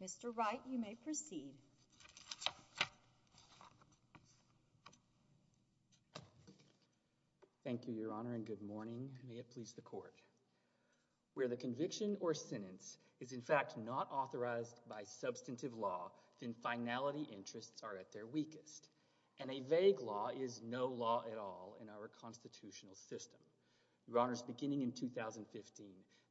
Mr. Wright, you may proceed. Thank you, Your Honor, and good morning, and may it please the Court. Where the conviction or sentence is in fact not authorized by substantive law, then finality interests are at their weakest, and a vague law is no law at all in our constitutional system. Your Honors, beginning in 2015,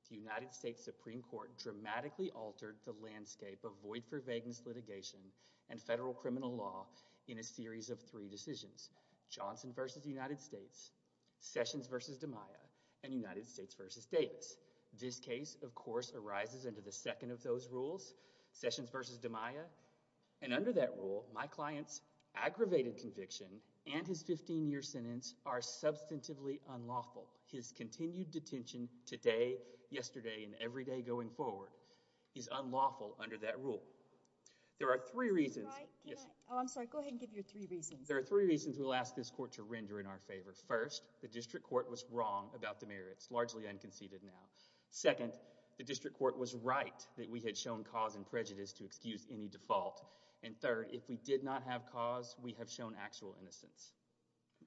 the United States Supreme Court dramatically altered the landscape of void-for-vagueness litigation and federal criminal law in a series of three decisions—Johnson v. United States, Sessions v. DiMaia, and United States v. Davis. This case, of course, arises under the second of those rules—Sessions v. DiMaia—and under that rule, my client's aggravated conviction and his 15-year sentence are substantively unlawful. His continued detention today, yesterday, and every day going forward is unlawful under that rule. There are three reasons— Mr. Wright, can I—oh, I'm sorry. Go ahead and give your three reasons. There are three reasons we'll ask this Court to render in our favor. First, the District Court was wrong about the merits, largely unconceded now. Second, the District Court was right that we had shown cause and prejudice to excuse any default. And third, if we did not have cause, we have shown actual innocence.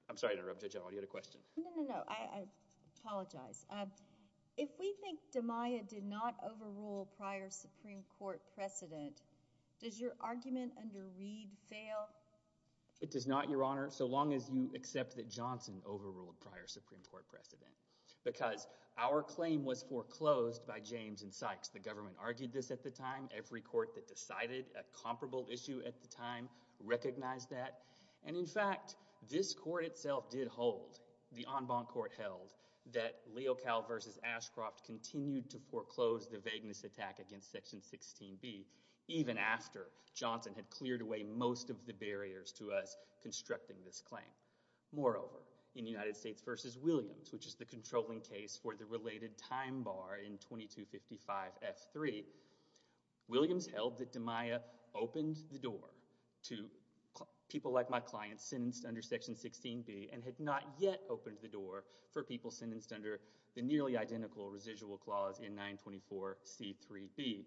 I'm sorry to interrupt, Judge Alwine. You had a question? No, no, no. I apologize. If we think DiMaia did not overrule prior Supreme Court precedent, does your argument under Reed fail? It does not, Your Honor, so long as you accept that Johnson overruled prior Supreme Court precedent because our claim was foreclosed by James and Sykes. The government argued this at the time. Every court that decided a comparable issue at the time recognized that. And in fact, this court itself did hold, the en banc court held, that Leocal v. Ashcroft continued to foreclose the vagueness attack against Section 16b even after Johnson had cleared away most of the barriers to us constructing this claim. Moreover, in United States v. Williams, which is the controlling case for the related time bar in 2255F3, Williams held that DiMaia opened the door to people like my client sentenced under Section 16b and had not yet opened the door for people sentenced under the nearly identical residual clause in 924C3b.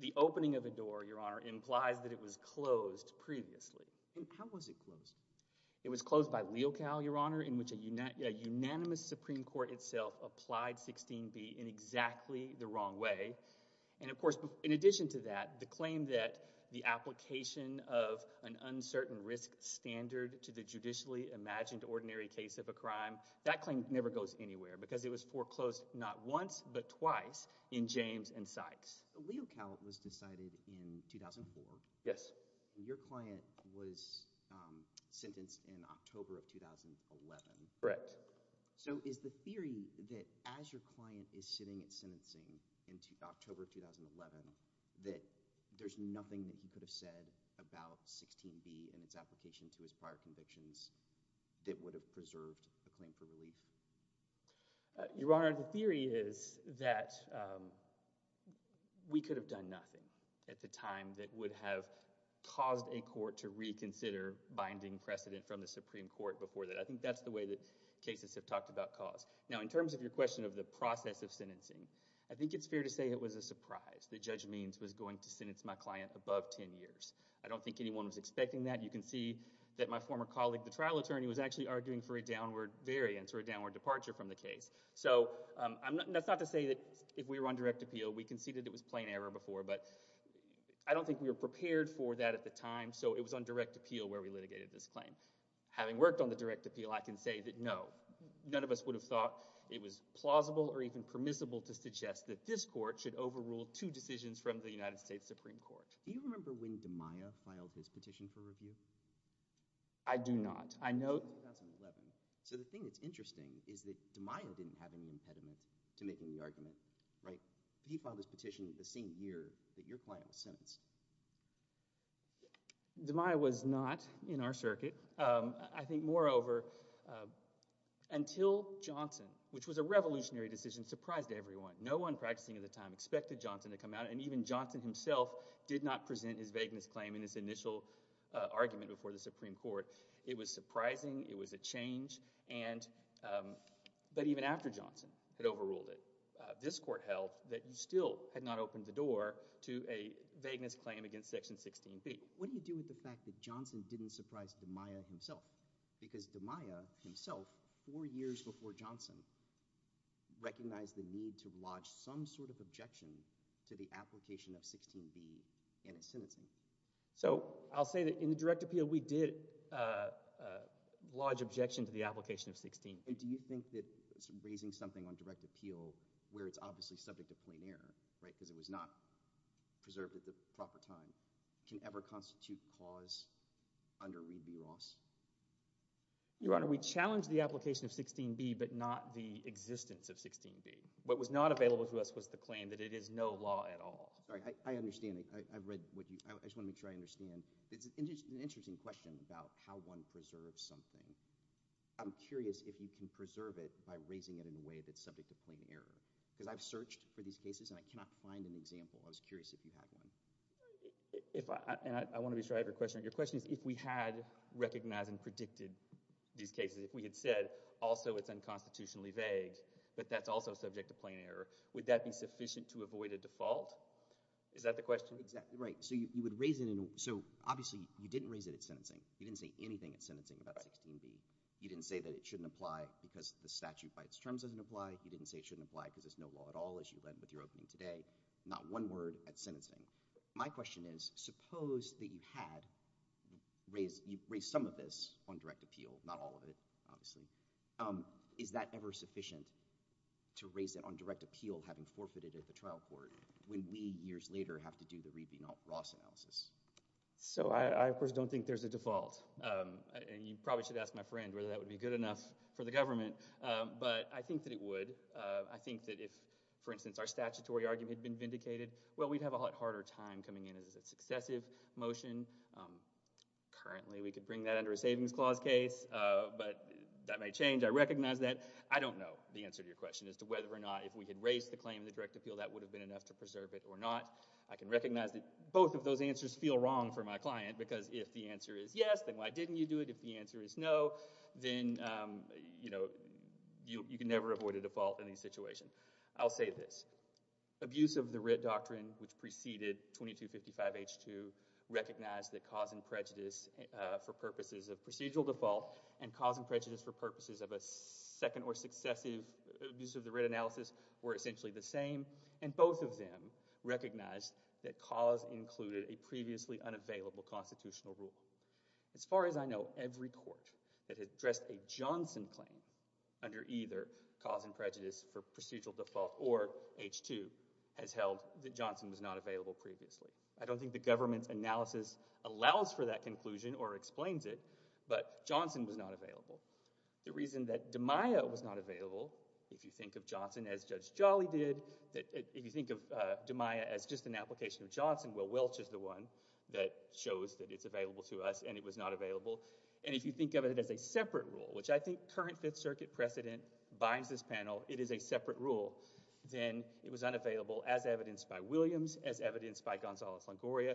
The opening of a door, Your Honor, implies that it was closed previously. And how was it closed? It was closed by Leocal, Your Honor, in which a unanimous Supreme Court itself applied 16b in exactly the wrong way. And of course, in addition to that, the claim that the application of an uncertain risk standard to the judicially imagined ordinary case of a crime, that claim never goes anywhere because it was foreclosed not once but twice in James and Sykes. Leocal was decided in 2004. Yes. Your client was sentenced in October of 2011. Correct. So is the theory that as your client is sitting at sentencing in October of 2011, that there's nothing that he could have said about 16b and its application to his prior convictions that would have preserved a claim for relief? Your Honor, the theory is that we could have done nothing at the time that would have caused a court to reconsider binding precedent from the Supreme Court before that. I think that's the way that cases have talked about cause. Now, in terms of your question of the process of sentencing, I think it's fair to say it was a surprise that Judge Means was going to sentence my client above 10 years. I don't think anyone was expecting that. You can see that my former colleague, the trial attorney, was actually arguing for a 10-hour departure from the case. So that's not to say that if we were on direct appeal, we conceded it was plain error before, but I don't think we were prepared for that at the time. So it was on direct appeal where we litigated this claim. Having worked on the direct appeal, I can say that no, none of us would have thought it was plausible or even permissible to suggest that this court should overrule two decisions from the United States Supreme Court. Do you remember when DeMaio filed his petition for review? I do not. I know... It was 2011. So the thing that's interesting is that DeMaio didn't have any impediment to making the argument, right? He filed his petition the same year that your client was sentenced. DeMaio was not in our circuit. I think, moreover, until Johnson, which was a revolutionary decision, surprised everyone. No one practicing at the time expected Johnson to come out, and even Johnson himself did not present his vagueness claim in his initial argument before the Supreme Court. It was surprising. It was a change, but even after Johnson had overruled it, this court held that you still had not opened the door to a vagueness claim against Section 16B. What do you do with the fact that Johnson didn't surprise DeMaio himself? Because DeMaio himself, four years before Johnson, recognized the need to lodge some sort of objection to the application of 16B in his sentencing. So, I'll say that in the direct appeal, we did lodge objection to the application of 16B. Do you think that raising something on direct appeal, where it's obviously subject to plain error, right, because it was not preserved at the proper time, can ever constitute cause under readme laws? Your Honor, we challenged the application of 16B, but not the existence of 16B. What was not available to us was the claim that it is no law at all. Sorry, I understand. I read what you—I just want to make sure I understand. It's an interesting question about how one preserves something. I'm curious if you can preserve it by raising it in a way that's subject to plain error. Because I've searched for these cases, and I cannot find an example. I was curious if you had one. I want to be sure I have your question. Your question is, if we had recognized and predicted these cases, if we had said, also it's unconstitutionally vague, but that's also subject to plain error, would that be sufficient to avoid a default? Is that the question? Exactly, right. So you would raise it in—so obviously, you didn't raise it at sentencing. You didn't say anything at sentencing about 16B. You didn't say that it shouldn't apply because the statute by its terms doesn't apply. You didn't say it shouldn't apply because it's no law at all, as you led with your opening today. Not one word at sentencing. My question is, suppose that you had raised some of this on direct appeal, not all of it, obviously. Is that ever sufficient to raise it on direct appeal, having forfeited at the trial court, when we, years later, have to do the Rebien-Ross analysis? So, I, of course, don't think there's a default. You probably should ask my friend whether that would be good enough for the government, but I think that it would. I think that if, for instance, our statutory argument had been vindicated, well, we'd have a lot harder time coming in as a successive motion. Currently, we could bring that under a savings clause case, but that may change. I recognize that. I don't know the answer to your question as to whether or not, if we had raised the claim in the direct appeal, that would have been enough to preserve it or not. I can recognize that both of those answers feel wrong for my client, because if the answer is yes, then why didn't you do it? If the answer is no, then, you know, you can never avoid a default in these situations. I'll say this. Abuse of the writ doctrine, which preceded 2255H2, recognized that cause and prejudice for purposes of procedural default and cause and prejudice for purposes of a second or the same, and both of them recognized that cause included a previously unavailable constitutional rule. As far as I know, every court that has addressed a Johnson claim under either cause and prejudice for procedural default or H2 has held that Johnson was not available previously. I don't think the government's analysis allows for that conclusion or explains it, but Johnson was not available. The reason that DiMaia was not available, if you think of Johnson as Judge Jolly did, if you think of DiMaia as just an application of Johnson, well, Welch is the one that shows that it's available to us, and it was not available. And if you think of it as a separate rule, which I think current Fifth Circuit precedent binds this panel, it is a separate rule, then it was unavailable as evidenced by Williams, as evidenced by Gonzalez-Longoria,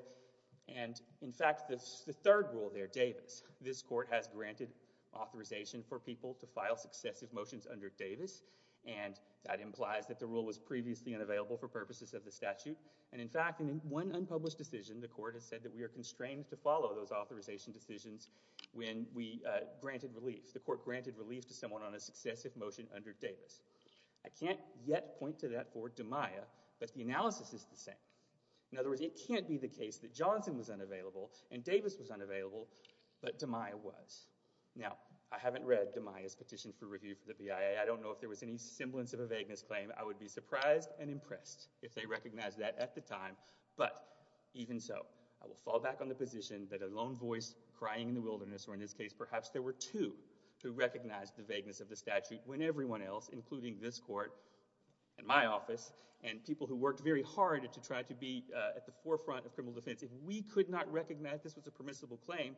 and in fact, the third rule there, Davis, this court has granted authorization for people to file successive motions under Davis, and that implies that the rule was previously unavailable for purposes of the statute. And in fact, in one unpublished decision, the court has said that we are constrained to follow those authorization decisions when we granted relief. The court granted relief to someone on a successive motion under Davis. I can't yet point to that for DiMaia, but the analysis is the same. In other words, it can't be the case that Johnson was unavailable and Davis was unavailable, but DiMaia was. Now, I haven't read DiMaia's petition for review for the BIA. I don't know if there was any semblance of a vagueness claim. I would be surprised and impressed if they recognized that at the time, but even so, I will fall back on the position that a lone voice crying in the wilderness, or in this case, perhaps there were two who recognized the vagueness of the statute when everyone else, including this court and my office and people who worked very hard to try to be at the forefront of criminal defense, if we could not recognize this was a permissible claim,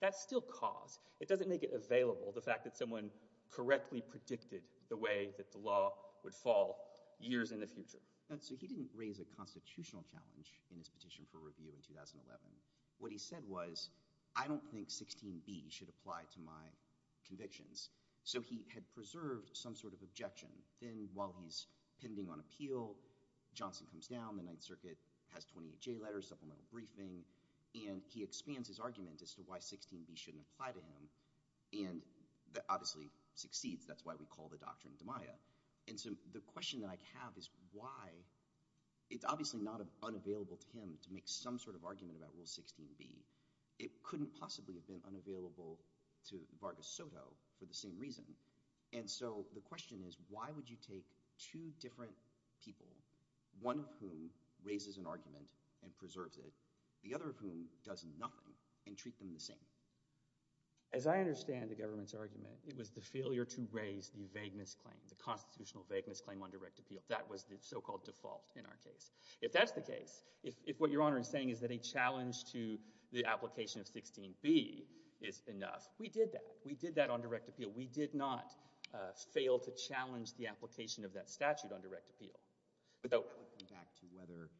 that's still cause. It doesn't make it available, the fact that someone correctly predicted the way that the law would fall years in the future. So he didn't raise a constitutional challenge in his petition for review in 2011. What he said was, I don't think 16b should apply to my convictions. So he had preserved some sort of objection. Then while he's pending on appeal, Johnson comes down, the Ninth Circuit has 28J letters, supplemental briefing, and he expands his argument as to why 16b shouldn't apply to him. And that obviously succeeds, that's why we call the doctrine DiMaia. And so the question that I have is why, it's obviously not unavailable to him to make some sort of argument about rule 16b. It couldn't possibly have been unavailable to Vargas Soto for the same reason. And so the question is, why would you take two different people, one of whom raises an argument and preserves it, the other of whom does nothing, and treat them the same? As I understand the government's argument, it was the failure to raise the vagueness claim, the constitutional vagueness claim on direct appeal. That was the so-called default in our case. If that's the case, if what Your Honor is saying is that a challenge to the application of 16b is enough, we did that. We did that on direct appeal. We did not fail to challenge the application of that statute on direct appeal. But that would come back to whether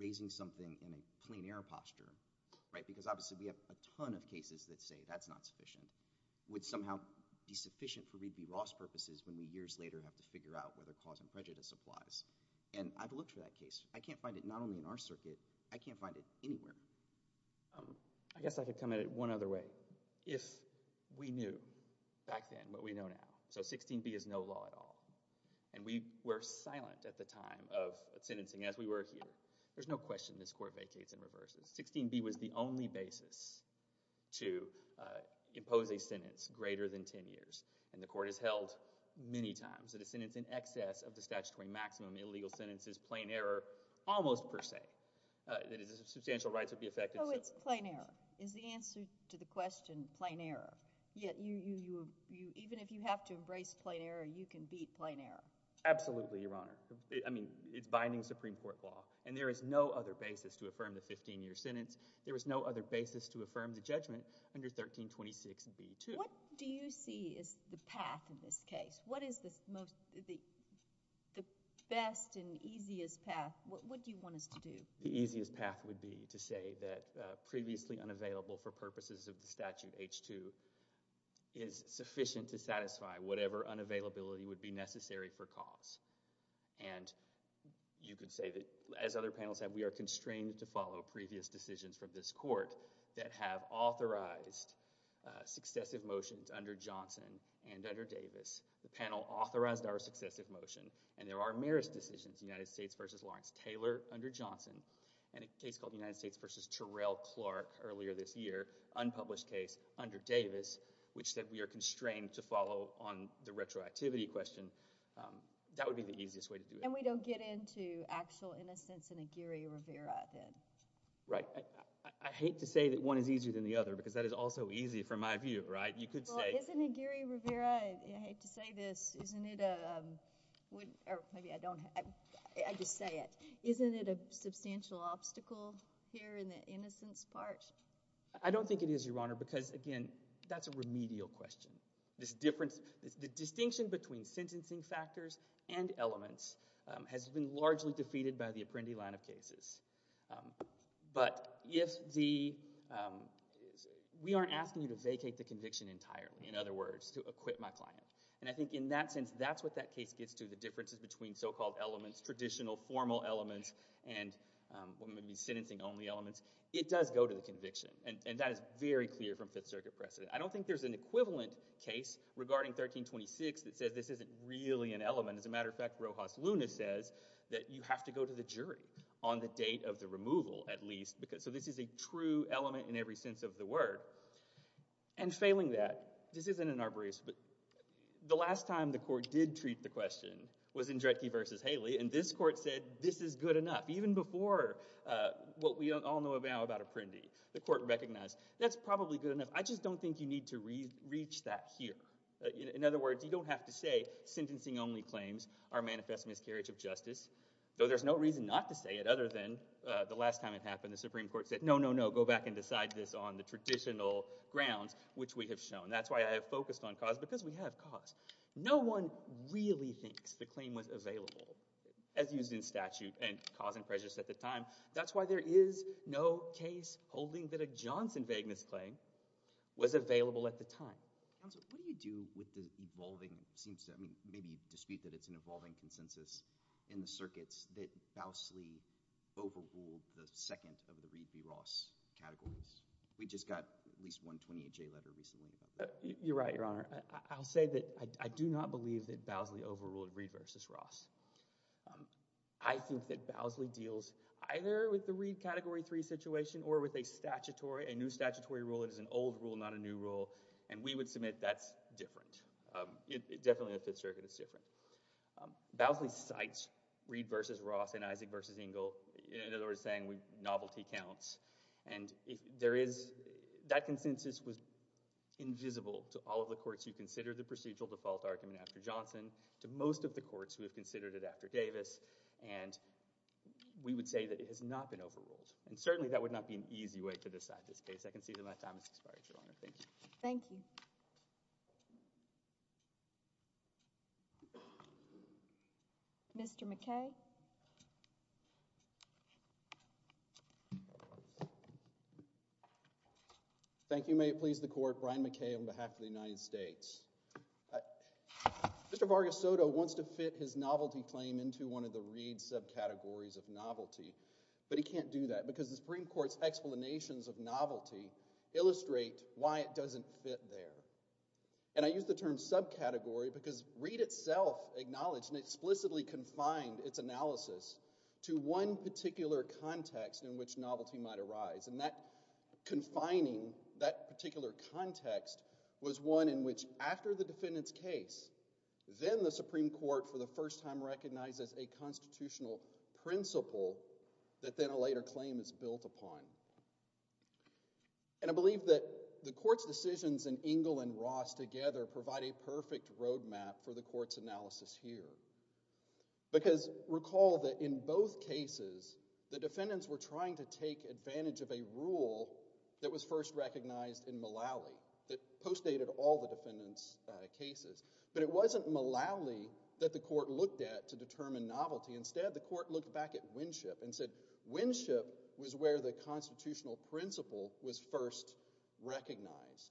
raising something in a plain air posture, because obviously we have a ton of cases that say that's not sufficient, would somehow be sufficient for Reed v. Ross purposes when we years later have to figure out whether cause and prejudice applies. And I've looked for that case. I can't find it not only in our circuit, I can't find it anywhere. I guess I could come at it one other way. If we knew back then what we know now. So 16b is no law at all. And we were silent at the time of sentencing as we were here. There's no question this court vacates and reverses. 16b was the only basis to impose a sentence greater than 10 years. And the court has held many times that a sentence in excess of the statutory maximum illegal sentence is plain error almost per se. Substantial rights would be affected. Oh, it's plain error. Is the answer to the question plain error? Even if you have to embrace plain error, you can beat plain error. Absolutely, Your Honor. I mean, it's binding Supreme Court law. And there is no other basis to affirm the 15-year sentence. There is no other basis to affirm the judgment under 1326b-2. What do you see is the path in this case? What is the best and easiest path? What do you want us to do? The easiest path would be to say that previously unavailable for purposes of the statute H-2 is sufficient to satisfy whatever unavailability would be necessary for cause. And you could say that, as other panels have, we are constrained to follow previous decisions from this court that have authorized successive motions under Johnson and under Davis. The panel authorized our successive motion. And there are merest decisions, United States v. Lawrence Taylor under Johnson and a case called United States v. Terrell Clark earlier this year, unpublished case under Davis, which said we are constrained to follow on the retroactivity question. That would be the easiest way to do it. And we don't get into actual innocence in Aguirre-Rivera then? Right. I hate to say that one is easier than the other, because that is also easy from my view, right? You could say— Well, isn't it, Aguirre-Rivera—I hate to say this—isn't it a substantial obstacle here in the innocence part? I don't think it is, Your Honor, because, again, that's a remedial question. The distinction between sentencing factors and elements has been largely defeated by the Apprendi line of cases. But if the—we aren't asking you to vacate the conviction entirely, in other words, to acquit my client. And I think in that sense, that's what that case gets to, the differences between so-called elements, traditional, formal elements, and what may be sentencing-only elements. It does go to the conviction, and that is very clear from Fifth Circuit precedent. I don't think there's an equivalent case regarding 1326 that says this isn't really an element. As a matter of fact, Rojas Luna says that you have to go to the jury on the date of the removal, at least. So this is a true element in every sense of the word. And failing that, this isn't an arborist, but the last time the court did treat the question was in Dretke v. Haley, and this court said this is good enough. Even before what we all know about Apprendi, the court recognized that's probably good enough. I just don't think you need to reach that here. In other words, you don't have to say sentencing-only claims are manifest miscarriage of justice, though there's no reason not to say it other than the last time it happened, the Supreme Court said no, no, no, go back and decide this on the traditional grounds which we have shown. That's why I have focused on cause because we have cause. No one really thinks the claim was available as used in statute and cause and prejudice at the time. That's why there is no case holding that a Johnson vagueness claim was available at the time. Counsel, what do you do with the evolving – I mean maybe you dispute that it's an evolving consensus in the circuits that Bousley overruled the second of the Reed v. Ross categories? We just got at least one 28-J letter recently about that. You're right, Your Honor. I'll say that I do not believe that Bousley overruled Reed v. Ross. I think that Bousley deals either with the Reed category 3 situation or with a statutory – a new statutory rule that is an old rule, not a new rule, and we would submit that's different. Definitely in the Fifth Circuit it's different. Bousley cites Reed v. Ross and Isaac v. Engel. In other words, saying novelty counts. That consensus was invisible to all of the courts who considered the procedural default argument after Johnson, to most of the courts who have considered it after Davis, and we would say that it has not been overruled. And certainly that would not be an easy way to decide this case. I can see that my time has expired, Your Honor. Thank you. Thank you. Mr. McKay. Thank you. May it please the Court, Brian McKay on behalf of the United States. Mr. Vargas Soto wants to fit his novelty claim into one of the Reed subcategories of novelty, but he can't do that because the Supreme Court's explanations of novelty illustrate why it doesn't fit there. And I use the term subcategory because Reed itself acknowledged and explicitly confined its analysis to one particular context in which novelty might arise, and that confining that particular context was one in which after the defendant's case, then the Supreme Court for the first time recognizes a constitutional principle that then a later claim is built upon. And I believe that the Court's decisions in Engle and Ross together provide a perfect roadmap for the Court's analysis here. Because recall that in both cases, the defendants were trying to take advantage of a rule that was first recognized in Mullally that postdated all the defendants' cases. But it wasn't Mullally that the Court looked at to determine novelty. Instead, the Court looked back at Winship and said Winship was where the constitutional principle was first recognized.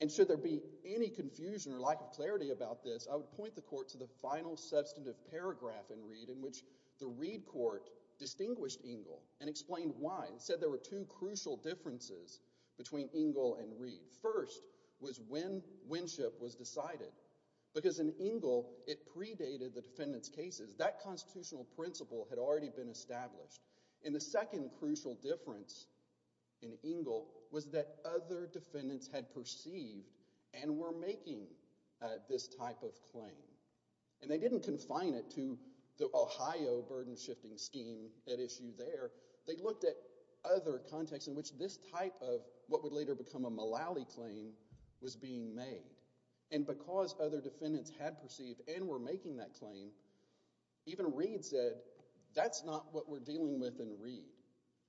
And should there be any confusion or lack of clarity about this, I would point the Court to the final substantive paragraph in Reed in which the Reed Court distinguished Engle and explained why and said there were two crucial differences between Engle and Reed. First was when Winship was decided because in Engle it predated the defendants' cases. That constitutional principle had already been established. And the second crucial difference in Engle was that other defendants had perceived and were making this type of claim. And they didn't confine it to the Ohio burden-shifting scheme at issue there. They looked at other contexts in which this type of what would later become a Mullally claim was being made. And because other defendants had perceived and were making that claim, even Reed said that's not what we're dealing with in Reed.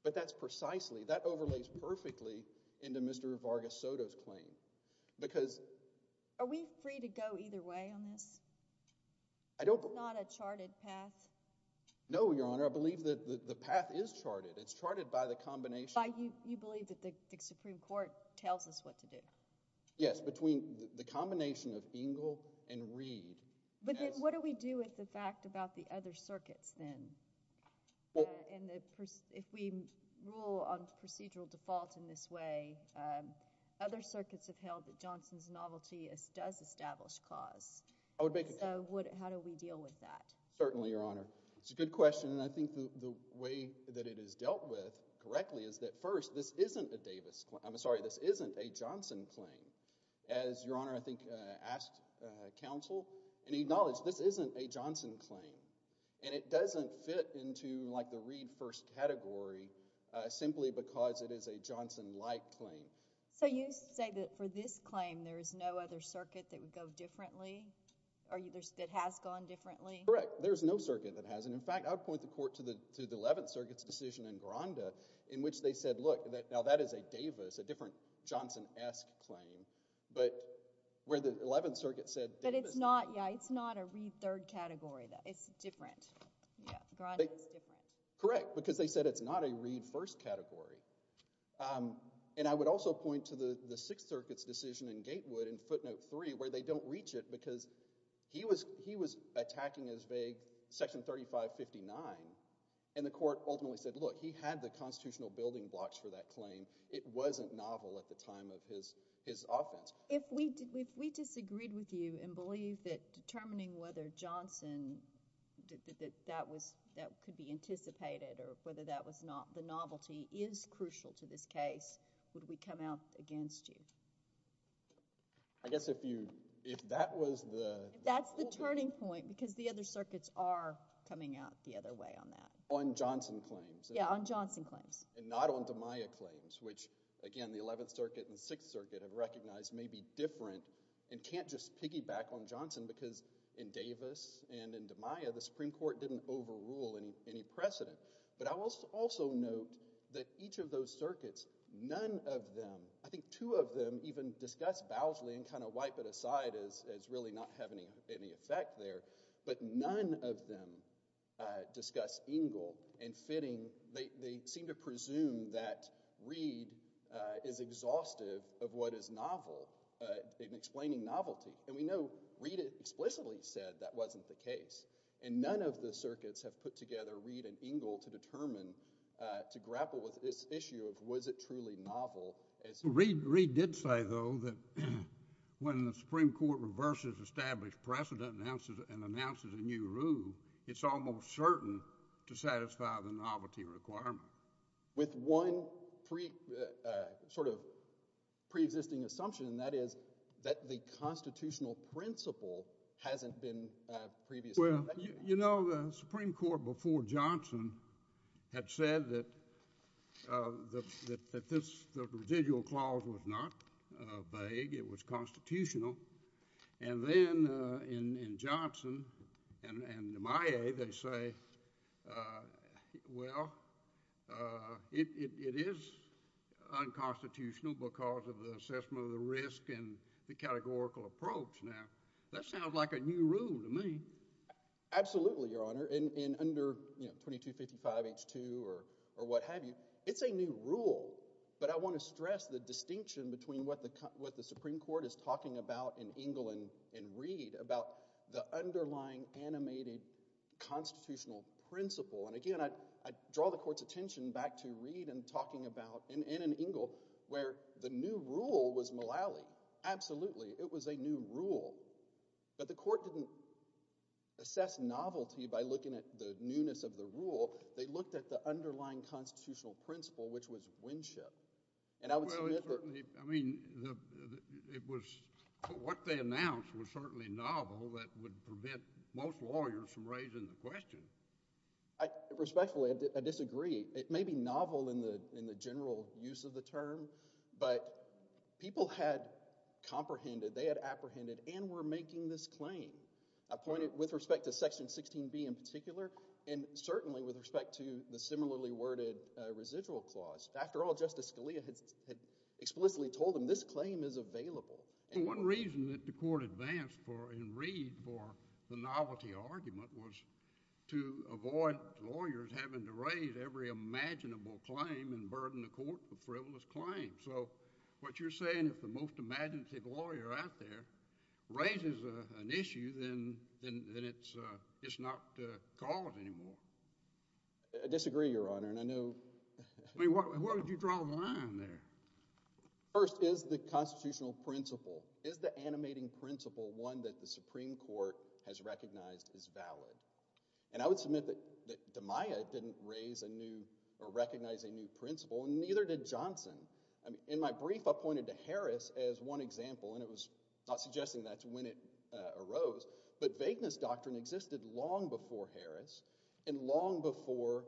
But that's precisely – that overlays perfectly into Mr. Vargas-Soto's claim. Because – Are we free to go either way on this? I don't – It's not a charted path. No, Your Honor. I believe that the path is charted. It's charted by the combination – By you believe that the Supreme Court tells us what to do. Yes, between the combination of Engle and Reed. But then what do we do with the fact about the other circuits then? And if we rule on procedural default in this way, other circuits have held that Johnson's novelty does establish cause. I would make a – So how do we deal with that? Certainly, Your Honor. It's a good question, and I think the way that it is dealt with correctly is that, first, this isn't a Johnson claim. As Your Honor, I think, asked counsel and acknowledged, this isn't a Johnson claim. And it doesn't fit into like the Reed first category simply because it is a Johnson-like claim. So you say that for this claim there is no other circuit that would go differently or that has gone differently? Correct. There is no circuit that hasn't. In fact, I would point the court to the Eleventh Circuit's decision in Granda in which they said, look, now that is a Davis, a different Johnson-esque claim. But where the Eleventh Circuit said Davis – But it's not – yeah, it's not a Reed third category. It's different. Yeah, Granda is different. Correct, because they said it's not a Reed first category. And I would also point to the Sixth Circuit's decision in Gatewood in footnote three where they don't reach it because he was attacking as vague section 3559, and the court ultimately said, look, he had the constitutional building blocks for that claim. It wasn't novel at the time of his offense. If we disagreed with you and believed that determining whether Johnson – that could be anticipated or whether that was not the novelty is crucial to this case, would we come out against you? I guess if you – if that was the – That's the turning point because the other circuits are coming out the other way on that. On Johnson claims. Yeah, on Johnson claims. And not on DiMaio claims, which, again, the Eleventh Circuit and the Sixth Circuit have recognized may be different and can't just piggyback on Johnson because in Davis and in DiMaio, the Supreme Court didn't overrule any precedent. But I will also note that each of those circuits, none of them – I think two of them even discuss Bowsley and kind of wipe it aside as really not having any effect there. But none of them discuss Engle. And fitting, they seem to presume that Reed is exhaustive of what is novel in explaining novelty. And we know Reed explicitly said that wasn't the case. And none of the circuits have put together Reed and Engle to determine – to grapple with this issue of was it truly novel. Reed did say, though, that when the Supreme Court reverses established precedent and announces a new rule, it's almost certain to satisfy the novelty requirement. With one sort of preexisting assumption, and that is that the constitutional principle hasn't been previously – Well, you know, the Supreme Court before Johnson had said that this residual clause was not vague. It was constitutional. And then in Johnson and DiMaio, they say, well, it is unconstitutional because of the assessment of the risk and the categorical approach. Now, that sounds like a new rule to me. Absolutely, Your Honor. And under 2255H2 or what have you, it's a new rule. But I want to stress the distinction between what the Supreme Court is talking about in Engle and Reed about the underlying animated constitutional principle. And, again, I draw the court's attention back to Reed and talking about – and in Engle where the new rule was Mullally. Absolutely, it was a new rule. But the court didn't assess novelty by looking at the newness of the rule. They looked at the underlying constitutional principle, which was Winship. And I would submit that – Well, it certainly – I mean it was – what they announced was certainly novel. That would prevent most lawyers from raising the question. Respectfully, I disagree. It may be novel in the general use of the term, but people had comprehended, they had apprehended, and were making this claim. I point it with respect to Section 16B in particular and certainly with respect to the similarly worded residual clause. After all, Justice Scalia had explicitly told them this claim is available. Well, one reason that the court advanced for – in Reed for the novelty argument was to avoid lawyers having to raise every imaginable claim and burden the court with frivolous claims. So what you're saying is if the most imaginative lawyer out there raises an issue, then it's not a cause anymore. I disagree, Your Honor, and I know – I mean where would you draw the line there? First is the constitutional principle. Is the animating principle one that the Supreme Court has recognized is valid? And I would submit that DeMaia didn't raise a new – or recognize a new principle, and neither did Johnson. In my brief, I pointed to Harris as one example, and it was not suggesting that's when it arose. But vagueness doctrine existed long before Harris and long before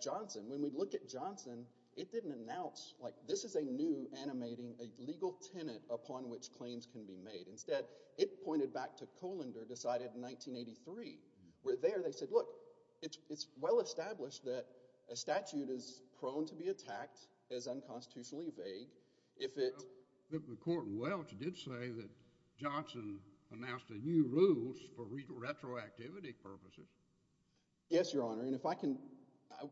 Johnson. When we look at Johnson, it didn't announce like this is a new animating – a legal tenet upon which claims can be made. Instead, it pointed back to Kohlander decided in 1983 where there they said, look, it's well established that a statute is prone to be attacked as unconstitutionally vague if it – The court in Welch did say that Johnson announced a new rule for retroactivity purposes. Yes, Your Honor, and if I can – I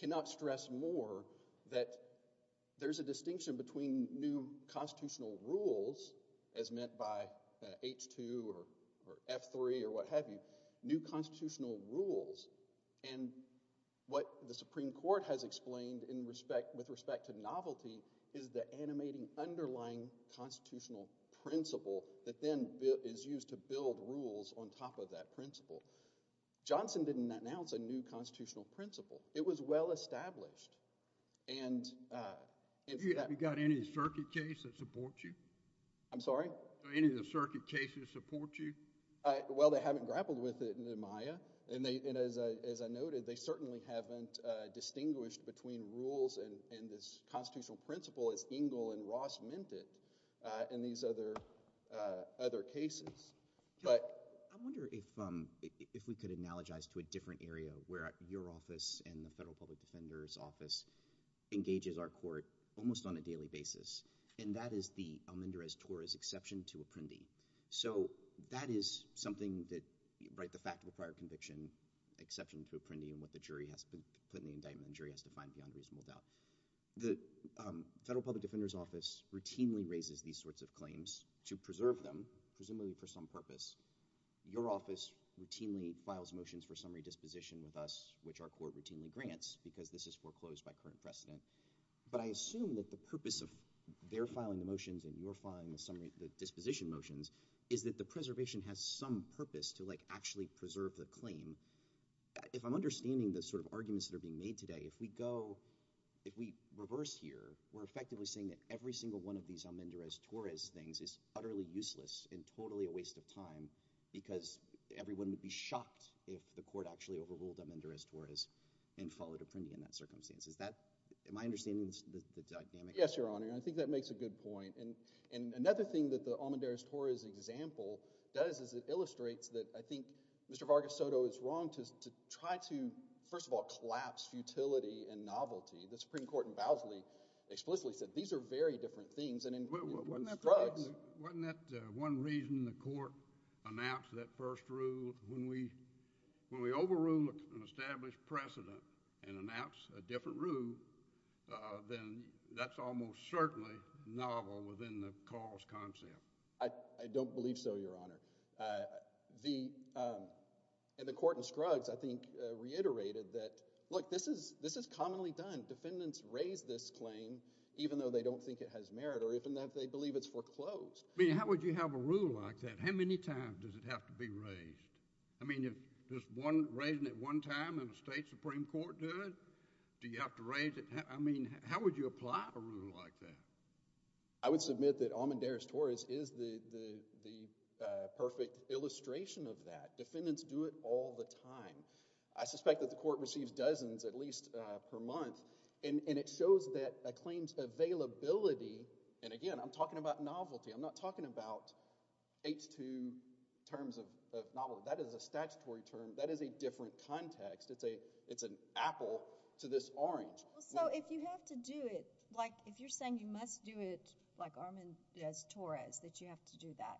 cannot stress more that there's a distinction between new constitutional rules as meant by H-2 or F-3 or what have you, new constitutional rules, and what the Supreme Court has explained in respect – with respect to novelty is the animating underlying constitutional principle that then is used to build rules on top of that principle. Johnson didn't announce a new constitutional principle. It was well established. And – You got any circuit case that supports you? I'm sorry? Any of the circuit cases support you? Well, they haven't grappled with it in the Maya, and as I noted, they certainly haven't distinguished between rules and this constitutional principle as Engel and Ross meant it in these other cases. But – I wonder if we could analogize to a different area where your office and the Federal Public Defender's Office engages our court almost on a daily basis, and that is the Almendrez-Torres exception to Apprendi. So that is something that – the fact of a prior conviction exception to Apprendi and what the jury has put in the indictment the jury has to find beyond reasonable doubt. The Federal Public Defender's Office routinely raises these sorts of claims to preserve them, presumably for some purpose. Your office routinely files motions for summary disposition with us, which our court routinely grants, because this is foreclosed by current precedent. But I assume that the purpose of their filing the motions and your filing the disposition motions is that the preservation has some purpose to actually preserve the claim. If I'm understanding the sort of arguments that are being made today, if we go – if we reverse here, we're effectively saying that every single one of these Almendrez-Torres things is utterly useless and totally a waste of time because everyone would be shocked if the court actually overruled Almendrez-Torres and followed Apprendi in that circumstance. Is that – am I understanding the dynamic? Yes, Your Honor, and I think that makes a good point. And another thing that the Almendrez-Torres example does is it illustrates that I think Mr. Vargas Soto is wrong to try to, first of all, collapse futility and novelty. The Supreme Court in Bousley explicitly said these are very different things. Wasn't that one reason the court announced that first rule? When we overrule an established precedent and announce a different rule, then that's almost certainly novel within the cause concept. I don't believe so, Your Honor. The – and the court in Scruggs, I think, reiterated that, look, this is commonly done. Defendants raise this claim even though they don't think it has merit or even if they believe it's foreclosed. I mean how would you have a rule like that? How many times does it have to be raised? I mean if just one – raising it one time and the state supreme court do it, do you have to raise it? I mean how would you apply a rule like that? I would submit that Amandaris-Torres is the perfect illustration of that. Defendants do it all the time. I suspect that the court receives dozens at least per month, and it shows that a claim's availability – and again, I'm talking about novelty. I'm not talking about H-2 terms of novelty. That is a statutory term. That is a different context. It's an apple to this orange. Well, so if you have to do it, like if you're saying you must do it like Amandaris-Torres, that you have to do that,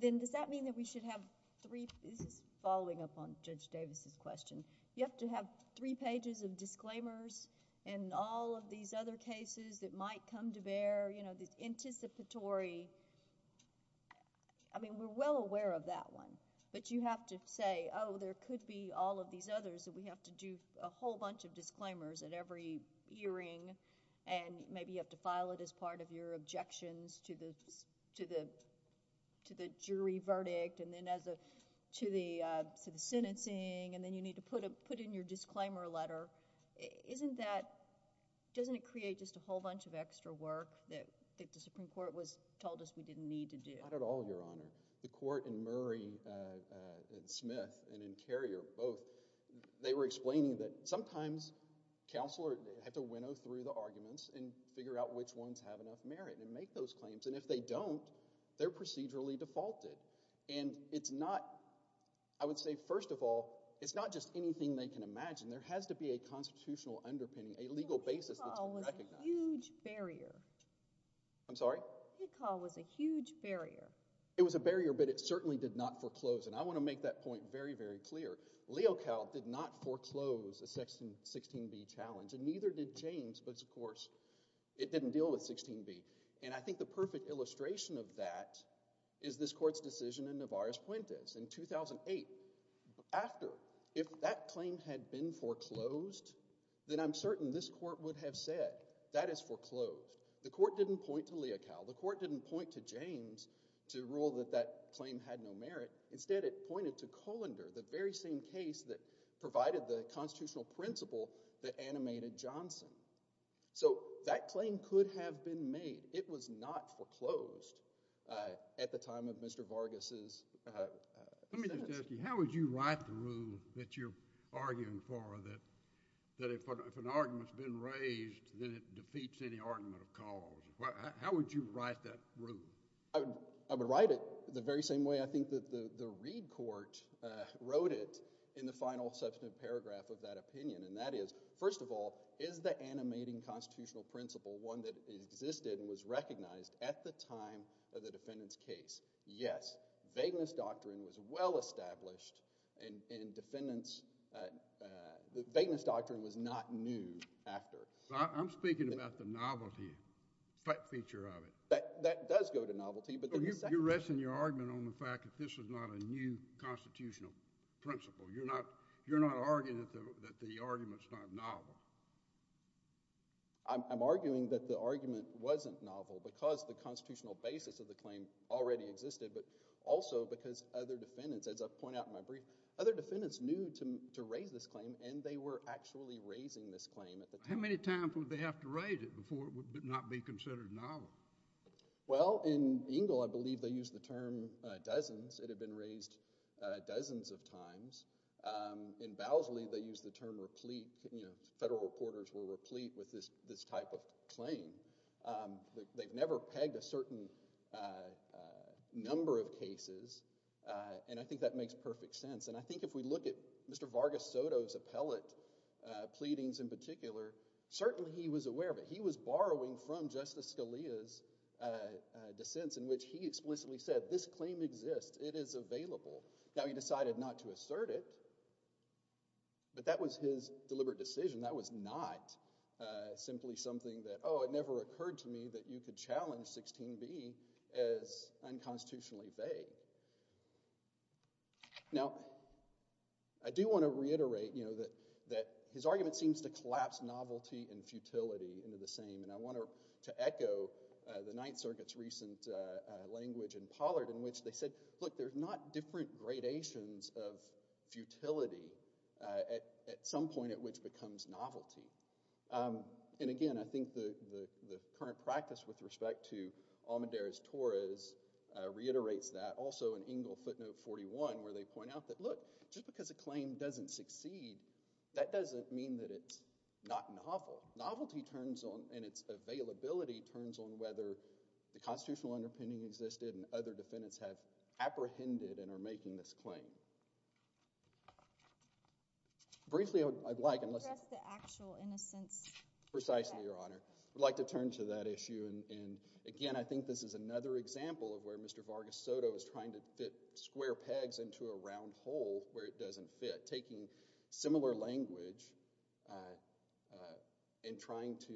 then does that mean that we should have three – this is following up on Judge Davis' question. You have to have three pages of disclaimers and all of these other cases that might come to bear, you know, this anticipatory – I mean we're well aware of that one, but you have to say, oh, there could be all of these others that we have to do a whole bunch of disclaimers at every hearing, and maybe you have to file it as part of your objections to the jury verdict, and then to the sentencing, and then you need to put in your disclaimer letter. Isn't that – doesn't it create just a whole bunch of extra work that the Supreme Court told us we didn't need to do? Not at all, Your Honor. The court in Murray and Smith and in Carrier, both, they were explaining that sometimes counselors have to winnow through the arguments and figure out which ones have enough merit and make those claims, and if they don't, they're procedurally defaulted. And it's not – I would say first of all, it's not just anything they can imagine. There has to be a constitutional underpinning, a legal basis that's been recognized. Hick Hall was a huge barrier. I'm sorry? Hick Hall was a huge barrier. It was a barrier, but it certainly did not foreclose, and I want to make that point very, very clear. Leocal did not foreclose a 16b challenge, and neither did James, but of course it didn't deal with 16b. And I think the perfect illustration of that is this court's decision in Navarres-Puentes in 2008. After, if that claim had been foreclosed, then I'm certain this court would have said, that is foreclosed. The court didn't point to Leocal. The court didn't point to James to rule that that claim had no merit. Instead, it pointed to Colander, the very same case that provided the constitutional principle that animated Johnson. So that claim could have been made. It was not foreclosed at the time of Mr. Vargas's sentence. Let me just ask you, how would you write the rule that you're arguing for that if an argument has been raised, then it defeats any argument of cause? How would you write that rule? I would write it the very same way I think that the Reid court wrote it in the final substantive paragraph of that opinion, and that is, first of all, is the animating constitutional principle one that existed and was recognized at the time of the defendant's case? Yes, vagueness doctrine was well-established, and defendants, vagueness doctrine was not new after. I'm speaking about the novelty type feature of it. That does go to novelty, but then the second— You're resting your argument on the fact that this was not a new constitutional principle. You're not arguing that the argument's not novel. I'm arguing that the argument wasn't novel because the constitutional basis of the claim already existed, but also because other defendants, as I point out in my brief, other defendants knew to raise this claim, and they were actually raising this claim at the time. How many times would they have to raise it before it would not be considered novel? Well, in Engle, I believe they used the term dozens. It had been raised dozens of times. In Bowsley, they used the term replete. Federal reporters were replete with this type of claim. They've never pegged a certain number of cases, and I think that makes perfect sense. And I think if we look at Mr. Vargas Soto's appellate pleadings in particular, certainly he was aware of it. He was borrowing from Justice Scalia's dissents in which he explicitly said this claim exists. It is available. Now, he decided not to assert it, but that was his deliberate decision. That was not simply something that, oh, it never occurred to me that you could challenge 16b as unconstitutionally vague. Now, I do want to reiterate that his argument seems to collapse novelty and futility into the same, and I want to echo the Ninth Circuit's recent language in Pollard in which they said, look, there's not different gradations of futility at some point at which becomes novelty. And, again, I think the current practice with respect to Almedera's Torres reiterates that. Also in Engel footnote 41 where they point out that, look, just because a claim doesn't succeed, that doesn't mean that it's not novel. Novelty turns on and its availability turns on whether the constitutional underpinning existed and other defendants have apprehended and are making this claim. Briefly, I'd like to address the actual innocence. Precisely, Your Honor. I'd like to turn to that issue. And, again, I think this is another example of where Mr. Vargas Soto is trying to fit square pegs into a round hole where it doesn't fit, taking similar language and trying to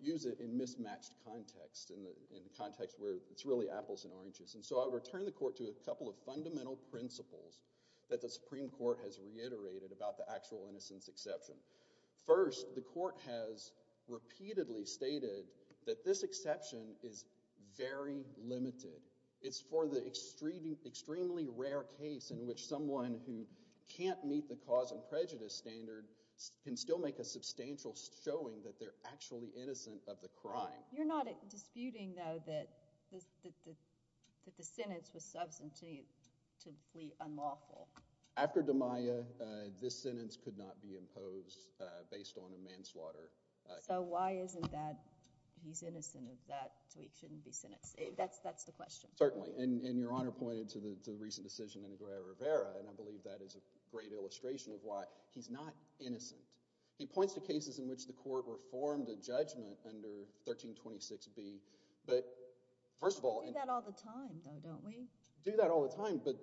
use it in mismatched context, in the context where it's really apples and oranges. And so I would return the Court to a couple of fundamental principles that the Supreme Court has reiterated about the actual innocence exception. First, the Court has repeatedly stated that this exception is very limited. It's for the extremely rare case in which someone who can't meet the cause and prejudice standard can still make a substantial showing that they're actually innocent of the crime. You're not disputing, though, that the sentence was substantively unlawful. After DiMaia, this sentence could not be imposed based on a manslaughter case. So why isn't that he's innocent of that, so he shouldn't be sentenced? That's the question. Certainly. And Your Honor pointed to the recent decision in Aguirre-Rivera, and I believe that is a great illustration of why he's not innocent. He points to cases in which the Court reformed a judgment under 1326b, but first of all— We do that all the time, though, don't we? We do that all the time, but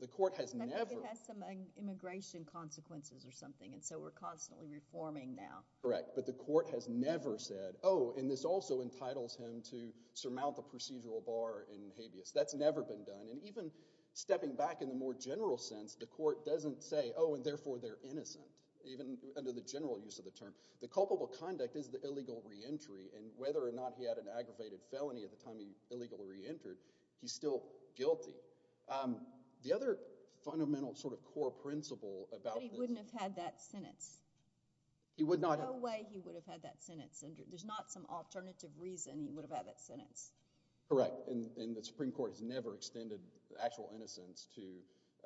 the Court has never— I think it has some immigration consequences or something, and so we're constantly reforming now. Correct, but the Court has never said, oh, and this also entitles him to surmount the procedural bar in habeas. That's never been done, and even stepping back in the more general sense, the Court doesn't say, oh, and therefore they're innocent. Even under the general use of the term. The culpable conduct is the illegal reentry, and whether or not he had an aggravated felony at the time he illegally reentered, he's still guilty. The other fundamental sort of core principle about this— But he wouldn't have had that sentence. He would not have— There's no way he would have had that sentence. There's not some alternative reason he would have had that sentence. Correct, and the Supreme Court has never extended actual innocence to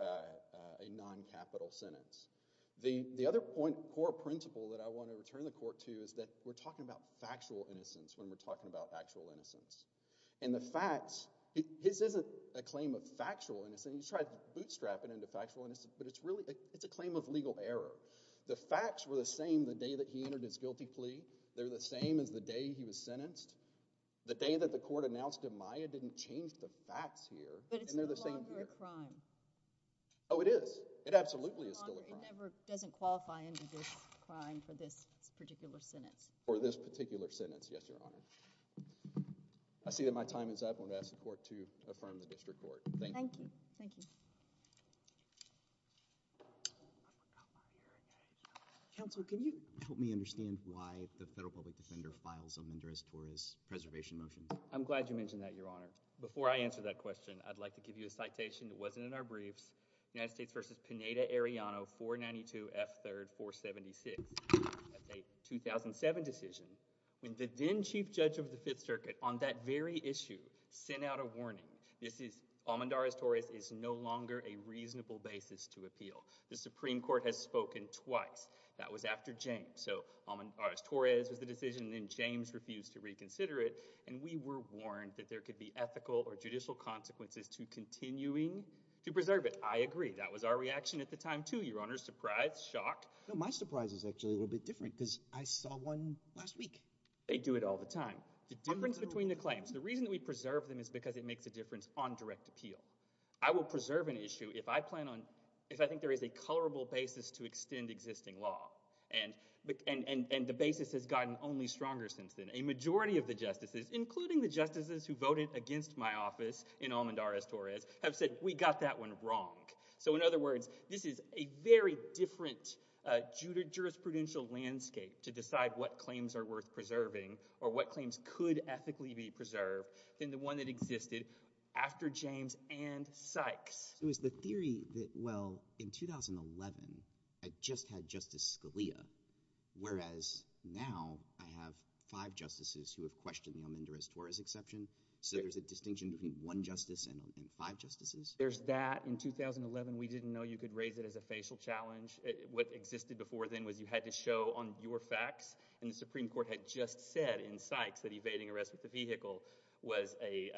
a noncapital sentence. The other core principle that I want to return the Court to is that we're talking about factual innocence when we're talking about actual innocence. And the facts—his isn't a claim of factual innocence. He's tried to bootstrap it into factual innocence, but it's really—it's a claim of legal error. The facts were the same the day that he entered his guilty plea. They're the same as the day he was sentenced. The day that the Court announced him Maya didn't change the facts here, and they're the same here. But it's no longer a crime. Oh, it is. It absolutely is still a crime. It never—doesn't qualify into this crime for this particular sentence. For this particular sentence, yes, Your Honor. I see that my time is up. I'm going to ask the Court to affirm the District Court. Thank you. Thank you. Counsel, can you help me understand why the federal public defender files a Mendoza-Torres preservation motion? I'm glad you mentioned that, Your Honor. Before I answer that question, I'd like to give you a citation that wasn't in our briefs. United States v. Pineda-Arellano, 492 F. 3rd 476. That's a 2007 decision. When the then-Chief Judge of the Fifth Circuit on that very issue sent out a warning, this is—Almendarez-Torres is no longer a reasonable basis to appeal. The Supreme Court has spoken twice. That was after James. So Almendarez-Torres was the decision, and then James refused to reconsider it, and we were warned that there could be ethical or judicial consequences to continuing to preserve it. I agree. That was our reaction at the time, too, Your Honor. Surprise, shock. No, my surprise is actually a little bit different because I saw one last week. They do it all the time. The difference between the claims—the reason we preserve them is because it makes a difference on direct appeal. I will preserve an issue if I plan on—if I think there is a colorable basis to extend existing law, and the basis has gotten only stronger since then. A majority of the justices, including the justices who voted against my office in Almendarez-Torres, have said, we got that one wrong. So in other words, this is a very different jurisprudential landscape to decide what claims are worth preserving or what claims could ethically be preserved than the one that existed after James and Sykes. It was the theory that, well, in 2011, I just had Justice Scalia, whereas now I have five justices who have questioned the Almendarez-Torres exception. So there's a distinction between one justice and five justices? There's that. In 2011, we didn't know you could raise it as a facial challenge. What existed before then was you had to show on your facts, and the Supreme Court had just said in Sykes that evading arrest with the vehicle was a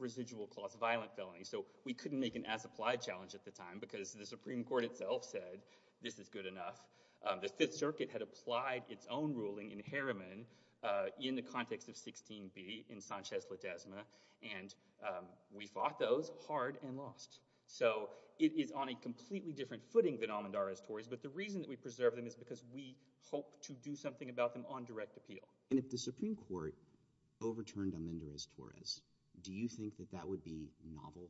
residual-clause violent felony. So we couldn't make an as-applied challenge at the time because the Supreme Court itself said this is good enough. The Fifth Circuit had applied its own ruling in Harriman in the context of 16b in Sanchez-Litesma, and we fought those hard and lost. So it is on a completely different footing than Almendarez-Torres, but the reason that we preserve them is because we hope to do something about them on direct appeal. And if the Supreme Court overturned Almendarez-Torres, do you think that that would be novel?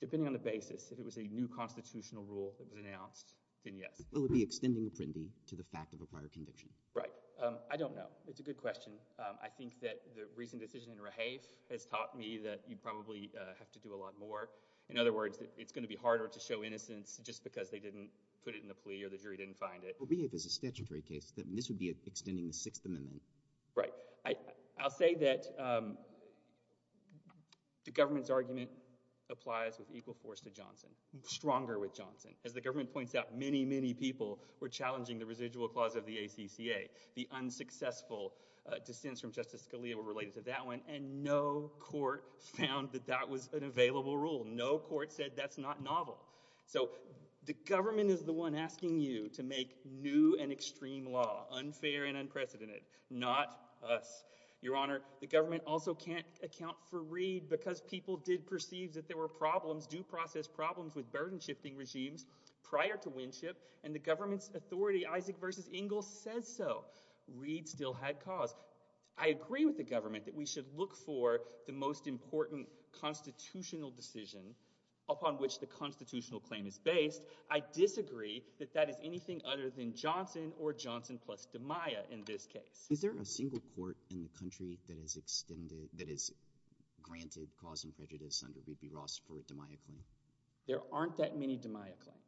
Depending on the basis. If it was a new constitutional rule that was announced, then yes. Well, it would be extending Apprendi to the fact of a prior conviction. Right. I don't know. It's a good question. I think that the recent decision in Rahaf has taught me that you probably have to do a lot more. In other words, it's going to be harder to show innocence just because they didn't put it in the plea or the jury didn't find it. Well, Rahaf is a statutory case. This would be extending the Sixth Amendment. Right. I'll say that the government's argument applies with equal force to Johnson, stronger with Johnson. As the government points out, many, many people were challenging the residual clause of the ACCA. The unsuccessful dissents from Justice Scalia were related to that one, and no court found that that was an available rule. No court said that's not novel. So the government is the one asking you to make new and extreme law, unfair and unprecedented, not us. Your Honor, the government also can't account for Reed because people did perceive that there were problems, due process problems, with burden-shifting regimes prior to Winship. And the government's authority, Isaac v. Engel, says so. Reed still had cause. I agree with the government that we should look for the most important constitutional decision upon which the constitutional claim is based. I disagree that that is anything other than Johnson or Johnson plus DiMaia in this case. Is there a single court in the country that has extended – that has granted cause and prejudice under B.B. Ross for a DiMaia claim? There aren't that many DiMaia claims.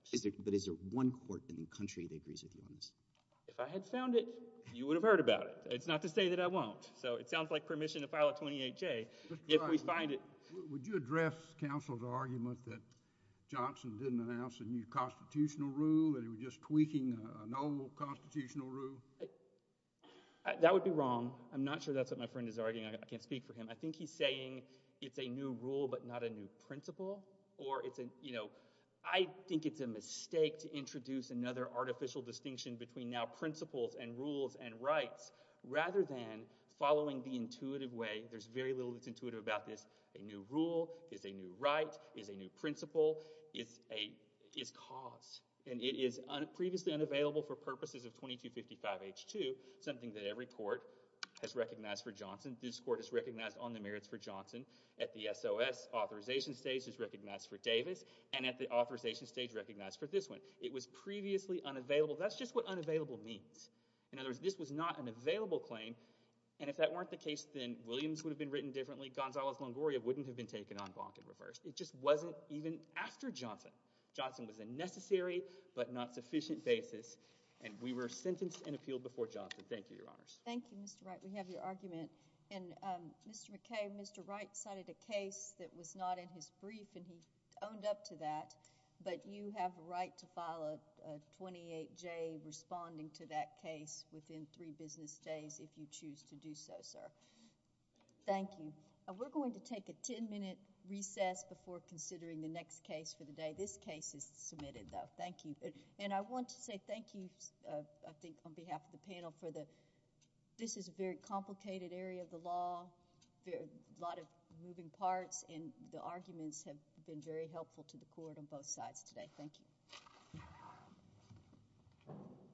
But is there one court in the country that agrees with you on this? If I had found it, you would have heard about it. It's not to say that I won't. So it sounds like permission to file a 28-J if we find it. Would you address counsel's argument that Johnson didn't announce a new constitutional rule, that he was just tweaking a normal constitutional rule? That would be wrong. I'm not sure that's what my friend is arguing. I can't speak for him. I think he's saying it's a new rule but not a new principle. Or it's a – I think it's a mistake to introduce another artificial distinction between now principles and rules and rights rather than following the intuitive way. There's very little that's intuitive about this. A new rule is a new right, is a new principle, is cause. And it is previously unavailable for purposes of 2255H2, something that every court has recognized for Johnson. This court has recognized on the merits for Johnson. At the SOS authorization stage, it's recognized for Davis. And at the authorization stage, recognized for this one. It was previously unavailable. That's just what unavailable means. In other words, this was not an available claim. And if that weren't the case, then Williams would have been written differently. Gonzales-Longoria wouldn't have been taken en banc in reverse. It just wasn't even after Johnson. Johnson was a necessary but not sufficient basis. And we were sentenced and appealed before Johnson. Thank you, Your Honors. Thank you, Mr. Wright. We have your argument. And Mr. McKay, Mr. Wright cited a case that was not in his brief and he owned up to that. But you have a right to file a 28J responding to that case within three business days if you choose to do so, sir. Thank you. We're going to take a ten-minute recess before considering the next case for the day. This case is submitted, though. Thank you. And I want to say thank you, I think, on behalf of the panel. This is a very complicated area of the law, a lot of moving parts, and the arguments have been very helpful to the court on both sides today. Thank you.